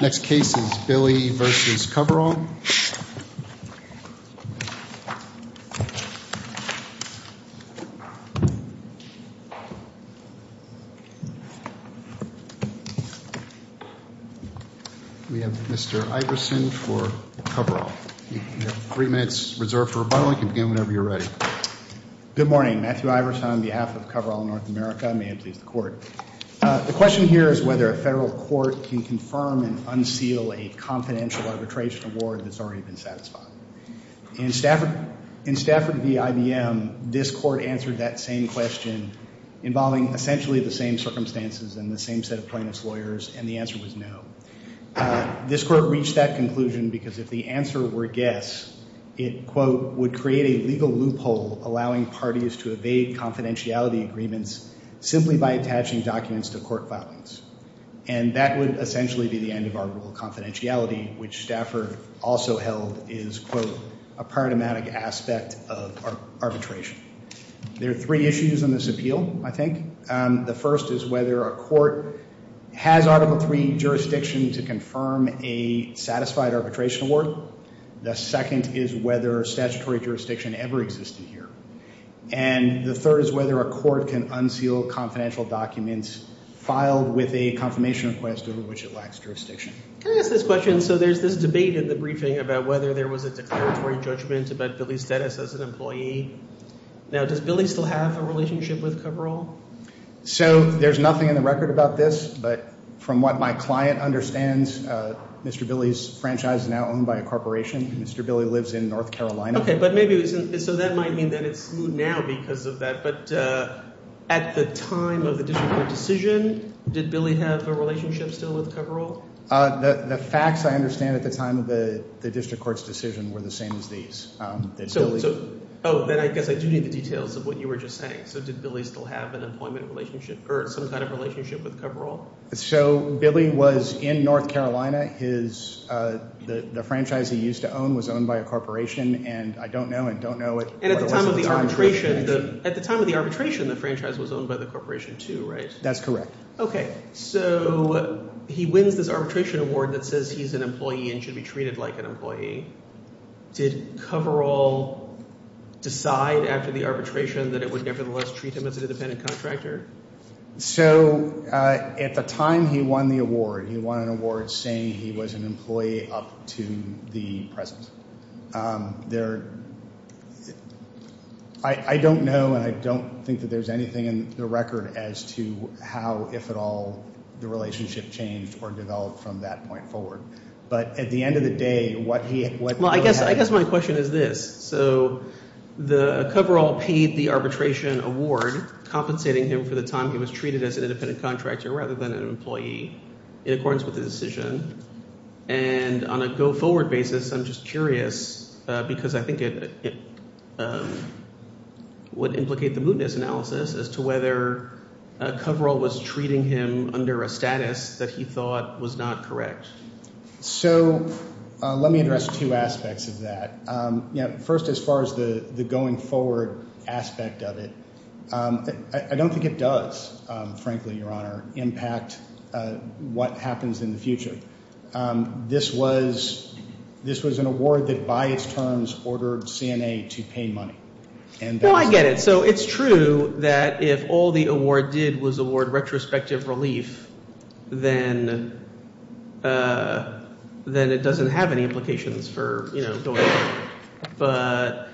Next case is Billy v. Coverall. We have Mr. Iverson for Coverall. You have three minutes reserved for rebuttal. You can begin whenever you're ready. Good morning. Matthew Iverson on behalf of Coverall North America. May it please the Court. The question here is whether a federal court can confirm and unseal a confidential arbitration award that's already been satisfied. In Stafford v. IBM, this court answered that same question involving essentially the same circumstances and the same set of plaintiff's lawyers, and the answer was no. This court reached that conclusion because if the answer were yes, it, quote, would create a legal loophole allowing parties to evade confidentiality agreements simply by attaching documents to court filings. And that would essentially be the end of our rule of confidentiality, which Stafford also held is, quote, a paradigmatic aspect of arbitration. There are three issues in this appeal, I think. The first is whether a court has Article III jurisdiction to confirm a satisfied arbitration award. The second is whether statutory jurisdiction ever existed here. And the third is whether a court can unseal confidential documents filed with a confirmation request over which it lacks jurisdiction. Can I ask this question? So there's this debate in the briefing about whether there was a declaratory judgment about Billy's status as an employee. Now, does Billy still have a relationship with Coverall? So there's nothing in the record about this, but from what my client understands, Mr. Billy's franchise is now owned by a corporation. Mr. Billy lives in North Carolina. Okay, but maybe it wasn't – so that might mean that it's new now because of that. But at the time of the district court decision, did Billy have a relationship still with Coverall? The facts I understand at the time of the district court's decision were the same as these. Oh, then I guess I do need the details of what you were just saying. So did Billy still have an employment relationship or some kind of relationship with Coverall? So Billy was in North Carolina. His – the franchise he used to own was owned by a corporation, and I don't know and don't know what – And at the time of the arbitration, the franchise was owned by the corporation too, right? That's correct. Okay, so he wins this arbitration award that says he's an employee and should be treated like an employee. Did Coverall decide after the arbitration that it would nevertheless treat him as an independent contractor? So at the time he won the award, he won an award saying he was an employee up to the present. There – I don't know and I don't think that there's anything in the record as to how, if at all, the relationship changed or developed from that point forward. But at the end of the day, what he – Well, I guess my question is this. So the – Coverall paid the arbitration award compensating him for the time he was treated as an independent contractor rather than an employee in accordance with the decision. And on a go-forward basis, I'm just curious because I think it would implicate the mootness analysis as to whether Coverall was treating him under a status that he thought was not correct. So let me address two aspects of that. First, as far as the going forward aspect of it, I don't think it does, frankly, Your Honor, impact what happens in the future. This was – this was an award that by its terms ordered CNA to pay money. Well, I get it. So it's true that if all the award did was award retrospective relief, then it doesn't have any implications for, you know, going forward. But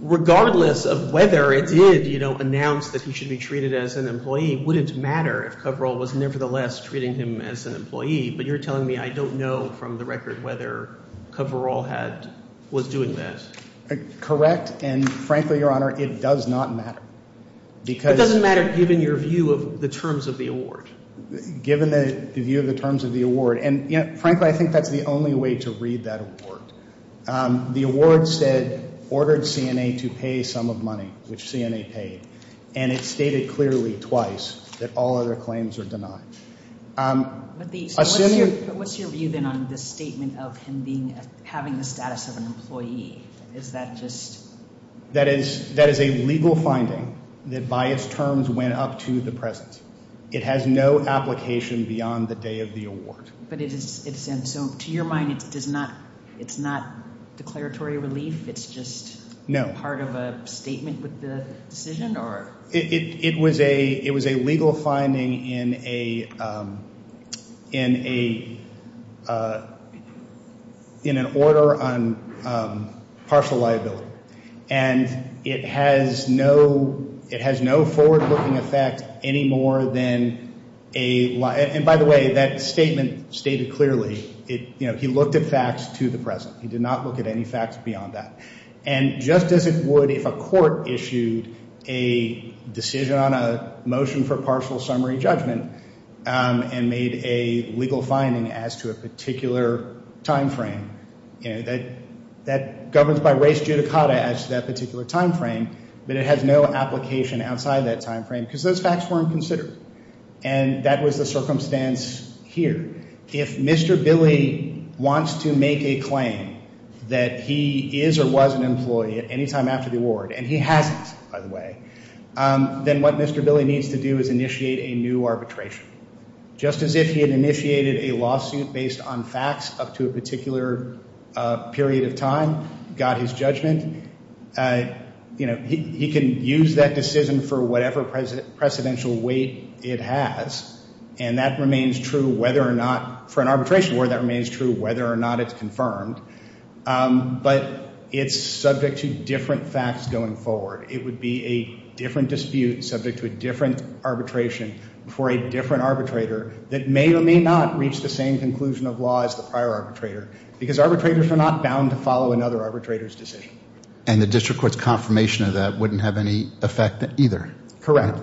regardless of whether it did, you know, announce that he should be treated as an employee, it wouldn't matter if Coverall was nevertheless treating him as an employee. But you're telling me I don't know from the record whether Coverall had – was doing that. Correct. And, frankly, Your Honor, it does not matter because – It doesn't matter given your view of the terms of the award. Given the view of the terms of the award. And, you know, frankly, I think that's the only way to read that award. The award said ordered CNA to pay some of money, which CNA paid. And it stated clearly twice that all other claims are denied. What's your view, then, on this statement of him being – having the status of an employee? Is that just – That is a legal finding that by its terms went up to the present. It has no application beyond the day of the award. But it is – and so to your mind, it's not declaratory relief? It's just part of a statement with the decision? It was a legal finding in a – in an order on partial liability. And it has no – it has no forward-looking effect any more than a – and, by the way, that statement stated clearly, you know, he looked at facts to the present. He did not look at any facts beyond that. And just as it would if a court issued a decision on a motion for partial summary judgment and made a legal finding as to a particular timeframe, you know, that governs by res judicata as to that particular timeframe, but it has no application outside that timeframe because those facts weren't considered. And that was the circumstance here. If Mr. Billy wants to make a claim that he is or was an employee at any time after the award, and he hasn't, by the way, then what Mr. Billy needs to do is initiate a new arbitration. Just as if he had initiated a lawsuit based on facts up to a particular period of time, got his judgment, you know, he can use that decision for whatever precedential weight it has. And that remains true whether or not – for an arbitration award, that remains true whether or not it's confirmed. But it's subject to different facts going forward. It would be a different dispute subject to a different arbitration for a different arbitrator that may or may not reach the same conclusion of law as the prior arbitrator because arbitrators are not bound to follow another arbitrator's decision. And the district court's confirmation of that wouldn't have any effect either. Correct.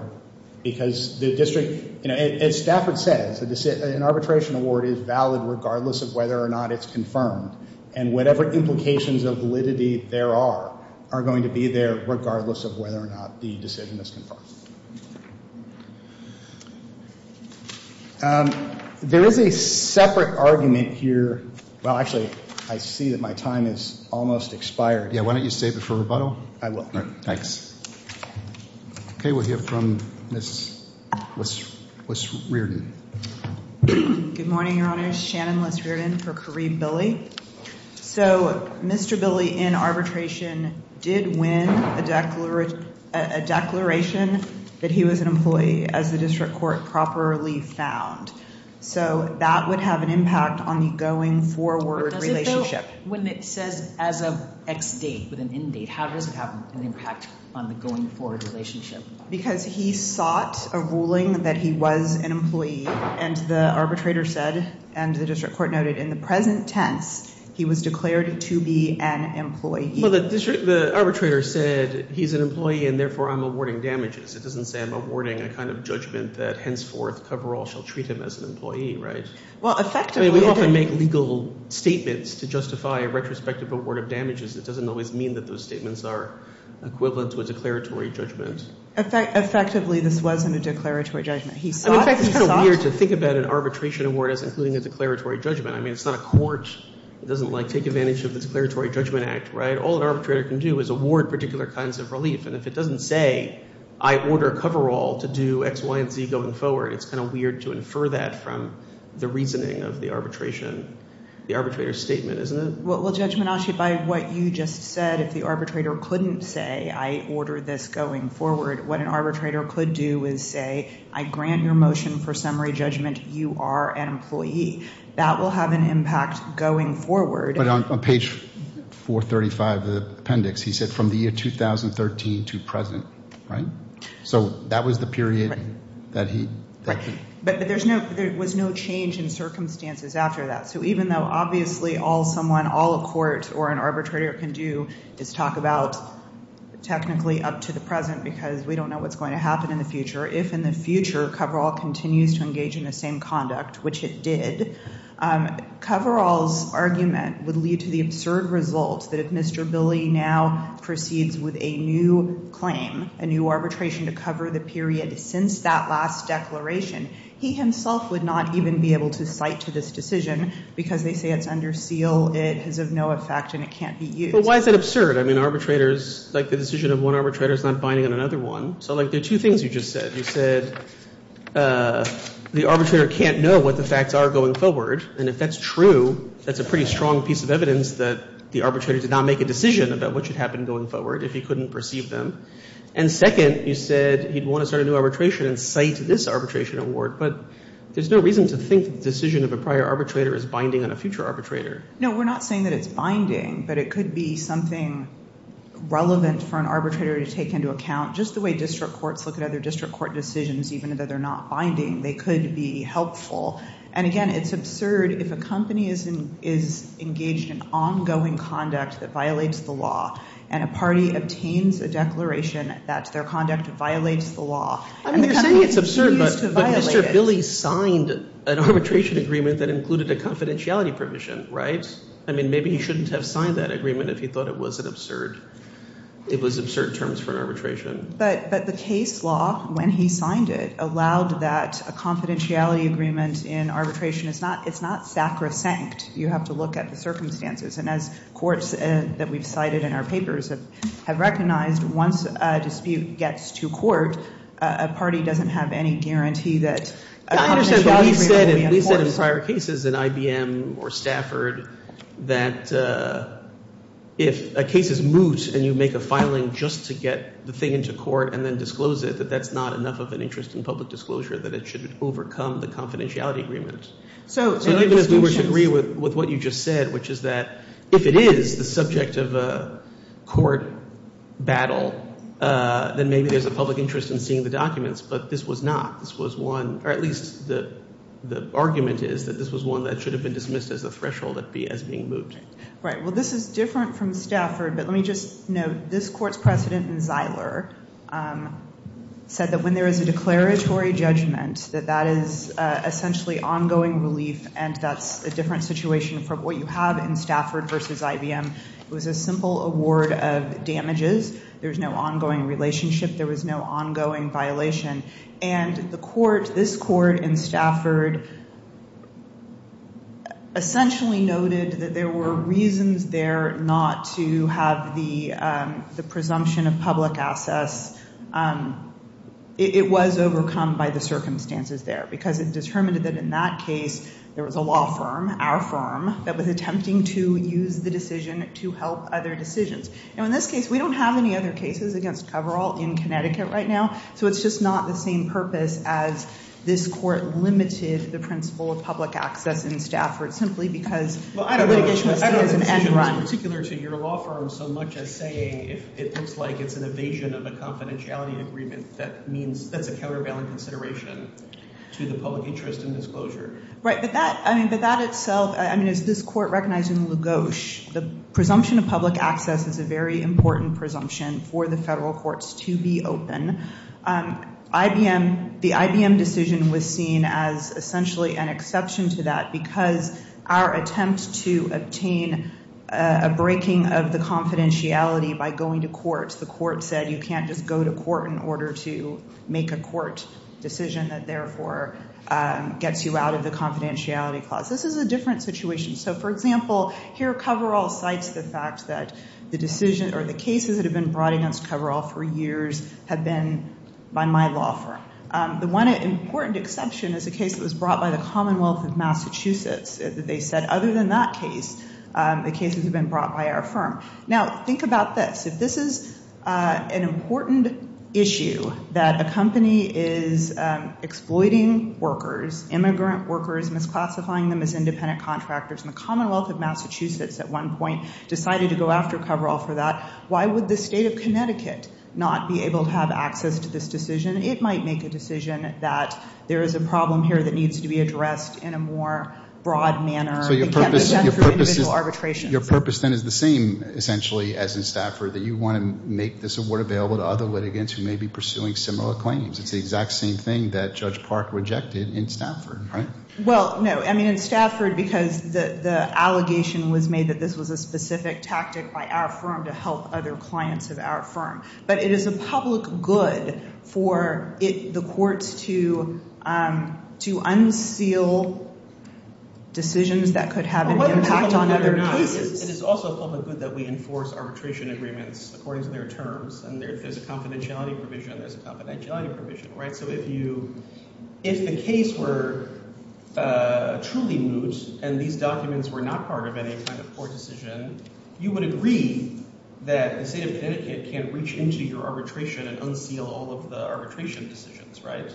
Because the district – you know, as Stafford says, an arbitration award is valid regardless of whether or not it's confirmed. And whatever implications of validity there are are going to be there regardless of whether or not the decision is confirmed. There is a separate argument here – well, actually, I see that my time has almost expired. Yeah, why don't you save it for rebuttal? I will. All right, thanks. Okay, we'll hear from Ms. Wiss-Reardon. Good morning, Your Honors. Shannon Wiss-Reardon for Kareem Billy. So Mr. Billy, in arbitration, did win a declaration that he was an employee as the district court properly found. So that would have an impact on the going forward relationship. When it says as of X date with an end date, how does it have an impact on the going forward relationship? Because he sought a ruling that he was an employee, and the arbitrator said, and the district court noted, in the present tense, he was declared to be an employee. Well, the arbitrator said he's an employee and therefore I'm awarding damages. It doesn't say I'm awarding a kind of judgment that henceforth coverall shall treat him as an employee, right? Well, effectively – I mean, we often make legal statements to justify a retrospective award of damages. It doesn't always mean that those statements are equivalent to a declaratory judgment. Effectively, this wasn't a declaratory judgment. He sought – It's kind of weird to think about an arbitration award as including a declaratory judgment. I mean, it's not a court. It doesn't take advantage of the Declaratory Judgment Act, right? All an arbitrator can do is award particular kinds of relief. And if it doesn't say I order coverall to do X, Y, and Z going forward, it's kind of weird to infer that from the reasoning of the arbitration – the arbitrator's statement, isn't it? Well, Judge Menache, by what you just said, if the arbitrator couldn't say I order this going forward, what an arbitrator could do is say I grant your motion for summary judgment. You are an employee. That will have an impact going forward. But on page 435 of the appendix, he said from the year 2013 to present, right? So that was the period that he – But there was no change in circumstances after that. So even though obviously all someone, all a court or an arbitrator can do is talk about technically up to the present because we don't know what's going to happen in the future, if in the future coverall continues to engage in the same conduct, which it did, coverall's argument would lead to the absurd result that if Mr. Billy now proceeds with a new claim, a new arbitration to cover the period since that last declaration, he himself would not even be able to cite to this decision because they say it's under seal, it is of no effect and it can't be used. But why is that absurd? I mean arbitrators – like the decision of one arbitrator is not binding on another one. So like there are two things you just said. You said the arbitrator can't know what the facts are going forward. And if that's true, that's a pretty strong piece of evidence that the arbitrator did not make a decision about what should happen going forward if he couldn't perceive them. And second, you said he'd want to start a new arbitration and cite this arbitration award. But there's no reason to think the decision of a prior arbitrator is binding on a future arbitrator. No, we're not saying that it's binding, but it could be something relevant for an arbitrator to take into account. Just the way district courts look at other district court decisions, even though they're not binding, they could be helpful. And again, it's absurd if a company is engaged in ongoing conduct that violates the law and a party obtains a declaration that their conduct violates the law. I mean, you're saying it's absurd, but Mr. Billy signed an arbitration agreement that included a confidentiality provision, right? I mean, maybe he shouldn't have signed that agreement if he thought it was an absurd – it was absurd terms for an arbitration. But the case law, when he signed it, allowed that a confidentiality agreement in arbitration – it's not sacrosanct. You have to look at the circumstances. And as courts that we've cited in our papers have recognized, once a dispute gets to court, a party doesn't have any guarantee that a confidentiality agreement will be in court. I understand, but he said in prior cases in IBM or Stafford that if a case is moot and you make a filing just to get the thing into court and then disclose it, that that's not enough of an interest in public disclosure, that it should overcome the confidentiality agreement. So even if we were to agree with what you just said, which is that if it is the subject of a court battle, then maybe there's a public interest in seeing the documents, but this was not. This was one – or at least the argument is that this was one that should have been dismissed as a threshold as being moot. Right. Well, this is different from Stafford, but let me just note, this Court's precedent in Zeiler said that when there is a declaratory judgment, that that is essentially ongoing relief, and that's a different situation from what you have in Stafford versus IBM. It was a simple award of damages. There was no ongoing relationship. There was no ongoing violation. And the Court, this Court in Stafford, essentially noted that there were reasons there not to have the presumption of public access. It was overcome by the circumstances there because it determined that in that case there was a law firm, our firm, that was attempting to use the decision to help other decisions. Now in this case, we don't have any other cases against coverall in Connecticut right now, so it's just not the same purpose as this Court limited the principle of public access in Stafford simply because the litigation was seen as an end run. It's not particular to your law firm so much as saying if it looks like it's an evasion of a confidentiality agreement, that means that's a countervailing consideration to the public interest in disclosure. Right, but that, I mean, but that itself, I mean, as this Court recognized in LaGosche, the presumption of public access is a very important presumption for the federal courts to be open. IBM, the IBM decision was seen as essentially an exception to that because our attempt to obtain a breaking of the confidentiality by going to court, the court said you can't just go to court in order to make a court decision that therefore gets you out of the confidentiality clause. This is a different situation. So, for example, here coverall cites the fact that the decision or the cases that have been brought against coverall for years have been by my law firm. The one important exception is a case that was brought by the Commonwealth of Massachusetts. They said other than that case, the cases have been brought by our firm. Now, think about this. If this is an important issue that a company is exploiting workers, immigrant workers, misclassifying them as independent contractors, and the Commonwealth of Massachusetts at one point decided to go after coverall for that, why would the state of Connecticut not be able to have access to this decision? It might make a decision that there is a problem here that needs to be addressed in a more broad manner. It can't be done through individual arbitration. So your purpose then is the same essentially as in Stafford, that you want to make this award available to other litigants who may be pursuing similar claims. It's the exact same thing that Judge Park rejected in Stafford, right? Well, no. I mean in Stafford because the allegation was made that this was a specific tactic by our firm to help other clients of our firm. But it is a public good for the courts to unseal decisions that could have an impact on other cases. It is also a public good that we enforce arbitration agreements according to their terms. And there's a confidentiality provision. There's a confidentiality provision. So if you – if the case were truly moot and these documents were not part of any kind of court decision, you would agree that the state of Connecticut can't reach into your arbitration and unseal all of the arbitration decisions, right?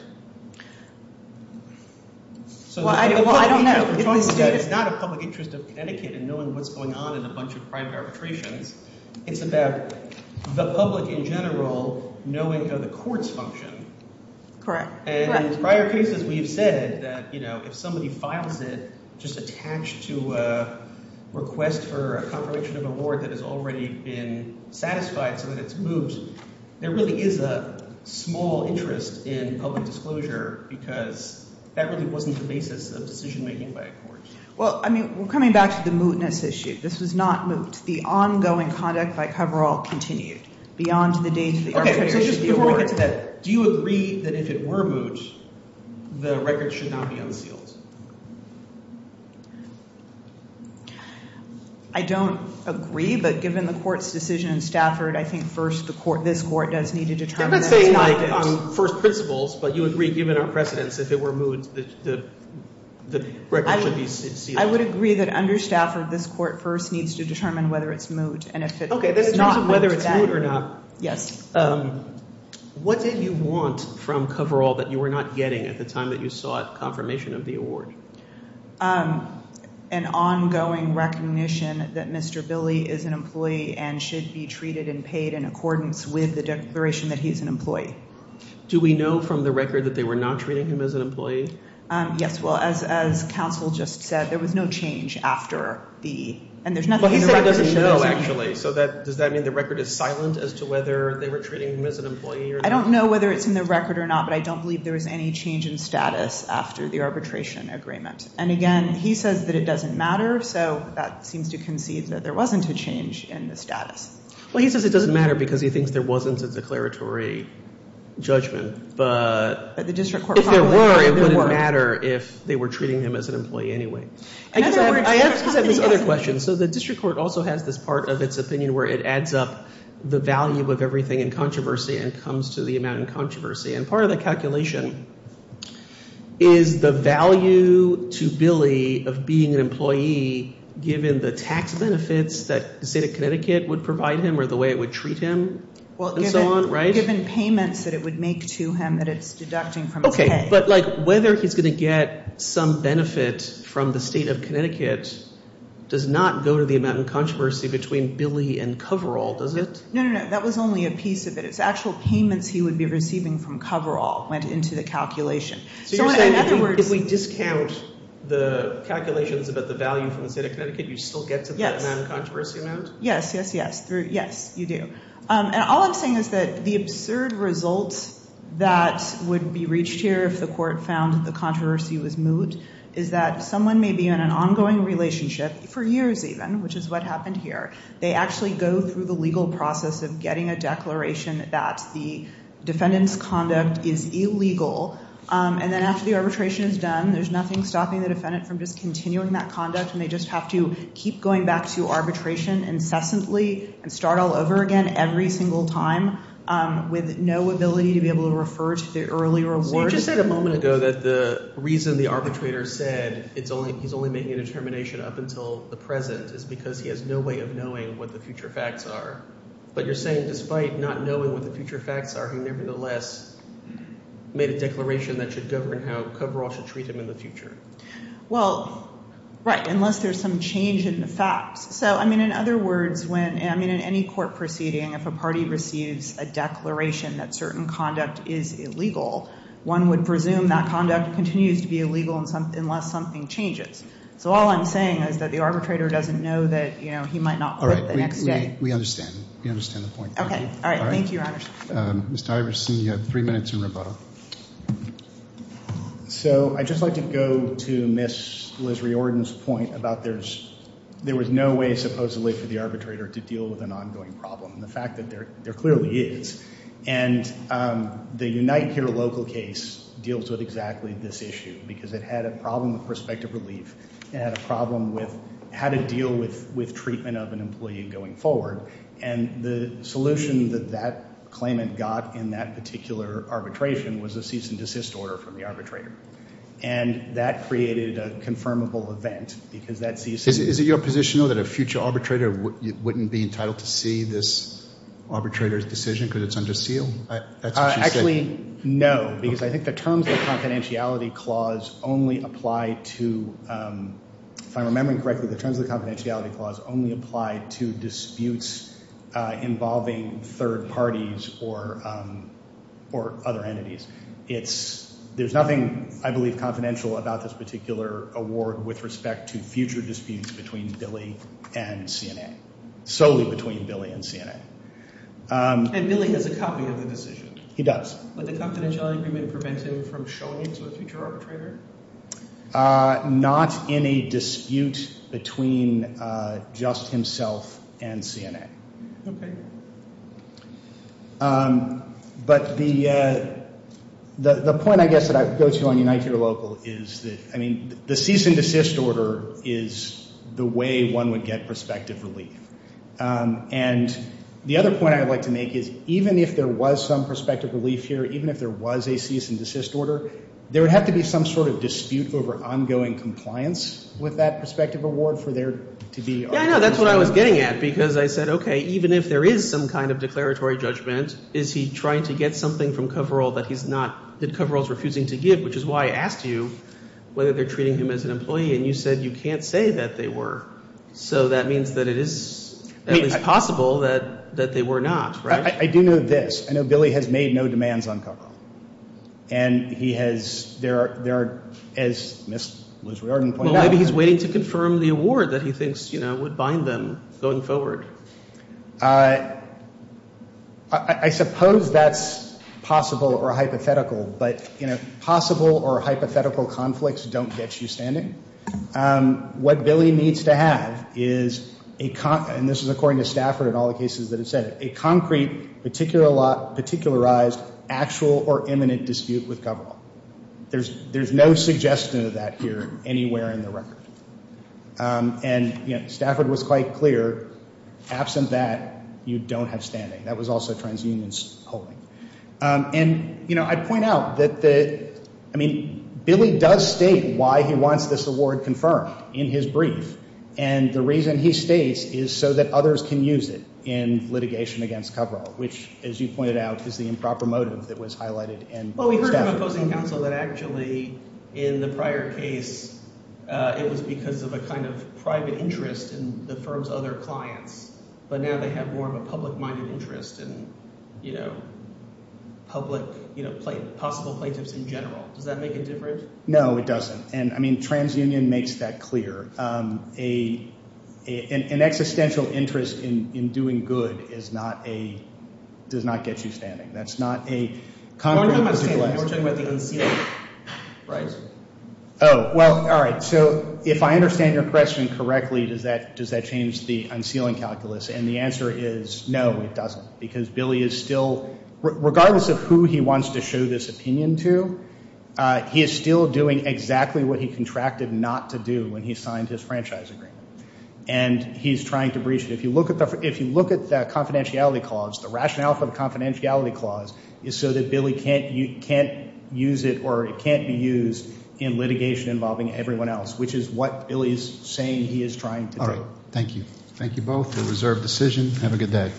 Well, I don't know. It's not a public interest of Connecticut in knowing what's going on in a bunch of private arbitrations. It's about the public in general knowing how the courts function. Correct. And in prior cases we've said that if somebody files it just attached to a request for a confirmation of award that has already been satisfied so that it's moot, there really is a small interest in public disclosure because that really wasn't the basis of decision-making by a court. Well, I mean we're coming back to the mootness issue. This was not moot. The ongoing conduct by coverall continued beyond the date of the arbitration of the award. Before we get to that, do you agree that if it were moot, the record should not be unsealed? I don't agree, but given the court's decision in Stafford, I think first this court does need to determine that it's not moot. Let's say like on first principles, but you agree given our precedents if it were moot, the record should be sealed. I would agree that under Stafford this court first needs to determine whether it's moot and if it's not, whether it's moot or not. Yes. What did you want from coverall that you were not getting at the time that you sought confirmation of the award? An ongoing recognition that Mr. Billy is an employee and should be treated and paid in accordance with the declaration that he's an employee. Do we know from the record that they were not treating him as an employee? Yes. Well, as counsel just said, there was no change after the – and there's nothing in the record that shows it. No, actually. So does that mean the record is silent as to whether they were treating him as an employee or not? I don't know whether it's in the record or not, but I don't believe there was any change in status after the arbitration agreement. And again, he says that it doesn't matter, so that seems to concede that there wasn't a change in the status. Well, he says it doesn't matter because he thinks there wasn't a declaratory judgment, but if there were, it wouldn't matter if they were treating him as an employee anyway. In other words – I guess I have this other question. So the district court also has this part of its opinion where it adds up the value of everything in controversy and comes to the amount in controversy. And part of the calculation is the value to Billy of being an employee given the tax benefits that the state of Connecticut would provide him or the way it would treat him and so on, right? Given payments that it would make to him that it's deducting from his pay. But whether he's going to get some benefit from the state of Connecticut does not go to the amount in controversy between Billy and Coverall, does it? No, no, no. That was only a piece of it. It's actual payments he would be receiving from Coverall went into the calculation. So in other words – So you're saying if we discount the calculations about the value from the state of Connecticut, you still get to the amount in controversy amount? Yes, yes, yes. Yes, you do. And all I'm saying is that the absurd result that would be reached here if the court found the controversy was moot is that someone may be in an ongoing relationship for years even, which is what happened here. They actually go through the legal process of getting a declaration that the defendant's conduct is illegal. And then after the arbitration is done, there's nothing stopping the defendant from just continuing that conduct and they just have to keep going back to arbitration incessantly and start all over again every single time with no ability to be able to refer to the early reward. So you just said a moment ago that the reason the arbitrator said he's only making a determination up until the present is because he has no way of knowing what the future facts are. But you're saying despite not knowing what the future facts are, he nevertheless made a declaration that should govern how coverall should treat him in the future. Well, right, unless there's some change in the facts. So, I mean, in other words, when – I mean, in any court proceeding, if a party receives a declaration that certain conduct is illegal, one would presume that conduct continues to be illegal unless something changes. So all I'm saying is that the arbitrator doesn't know that he might not quit the next day. We understand. We understand the point. All right. Thank you, Your Honor. Mr. Iverson, you have three minutes in rebuttal. So I'd just like to go to Ms. Liz Riordan's point about there was no way supposedly for the arbitrator to deal with an ongoing problem and the fact that there clearly is. And the Unite Here Local case deals with exactly this issue because it had a problem with prospective relief. It had a problem with how to deal with treatment of an employee going forward. And the solution that that claimant got in that particular arbitration was a cease and desist order from the arbitrator. And that created a confirmable event because that cease and – Is it your position, though, that a future arbitrator wouldn't be entitled to see this arbitrator's decision because it's under seal? Actually, no, because I think the terms of the confidentiality clause only apply to – if I'm remembering correctly, the terms of the confidentiality clause only apply to disputes involving third parties or other entities. It's – there's nothing, I believe, confidential about this particular award with respect to future disputes between Billy and CNA, solely between Billy and CNA. And Billy has a copy of the decision? He does. But the confidentiality agreement prevents him from showing it to a future arbitrator? Not in a dispute between just himself and CNA. Okay. But the point, I guess, that I would go to on Unite, Hear, Local! is that, I mean, the cease and desist order is the way one would get prospective relief. And the other point I would like to make is even if there was some prospective relief here, even if there was a cease and desist order, there would have to be some sort of dispute over ongoing compliance with that prospective award for there to be arbitration. Yeah, I know. That's what I was getting at, because I said, okay, even if there is some kind of declaratory judgment, is he trying to get something from Coverall that he's not – that Coverall's refusing to give, which is why I asked you whether they're treating him as an employee, and you said you can't say that they were. So that means that it is at least possible that they were not, right? I do know this. I know Billy has made no demands on Coverall. And he has – there are – as Ms. Liz Riordan pointed out – Well, maybe he's waiting to confirm the award that he thinks, you know, would bind them going forward. I suppose that's possible or hypothetical, but, you know, possible or hypothetical conflicts don't get you standing. What Billy needs to have is a – and this is according to Stafford and all the cases that have said it – a concrete, particularized, actual or imminent dispute with Coverall. There's no suggestion of that here anywhere in the record. And, you know, Stafford was quite clear. Absent that, you don't have standing. That was also TransUnion's holding. And, you know, I'd point out that the – I mean, Billy does state why he wants this award confirmed in his brief. And the reason he states is so that others can use it in litigation against Coverall, which, as you pointed out, is the improper motive that was highlighted in Stafford. So you're proposing counsel that actually in the prior case it was because of a kind of private interest in the firm's other clients, but now they have more of a public-minded interest in, you know, public – you know, possible plaintiffs in general. Does that make a difference? No, it doesn't. And, I mean, TransUnion makes that clear. An existential interest in doing good is not a – does not get you standing. That's not a – We're talking about the unsealing, right? Oh, well, all right. So if I understand your question correctly, does that change the unsealing calculus? And the answer is no, it doesn't, because Billy is still – regardless of who he wants to show this opinion to, he is still doing exactly what he contracted not to do when he signed his franchise agreement. And he's trying to breach it. If you look at the confidentiality clause, the rationale for the confidentiality clause is so that Billy can't use it or it can't be used in litigation involving everyone else, which is what Billy is saying he is trying to do. Thank you. Thank you both for the reserved decision. Have a good day.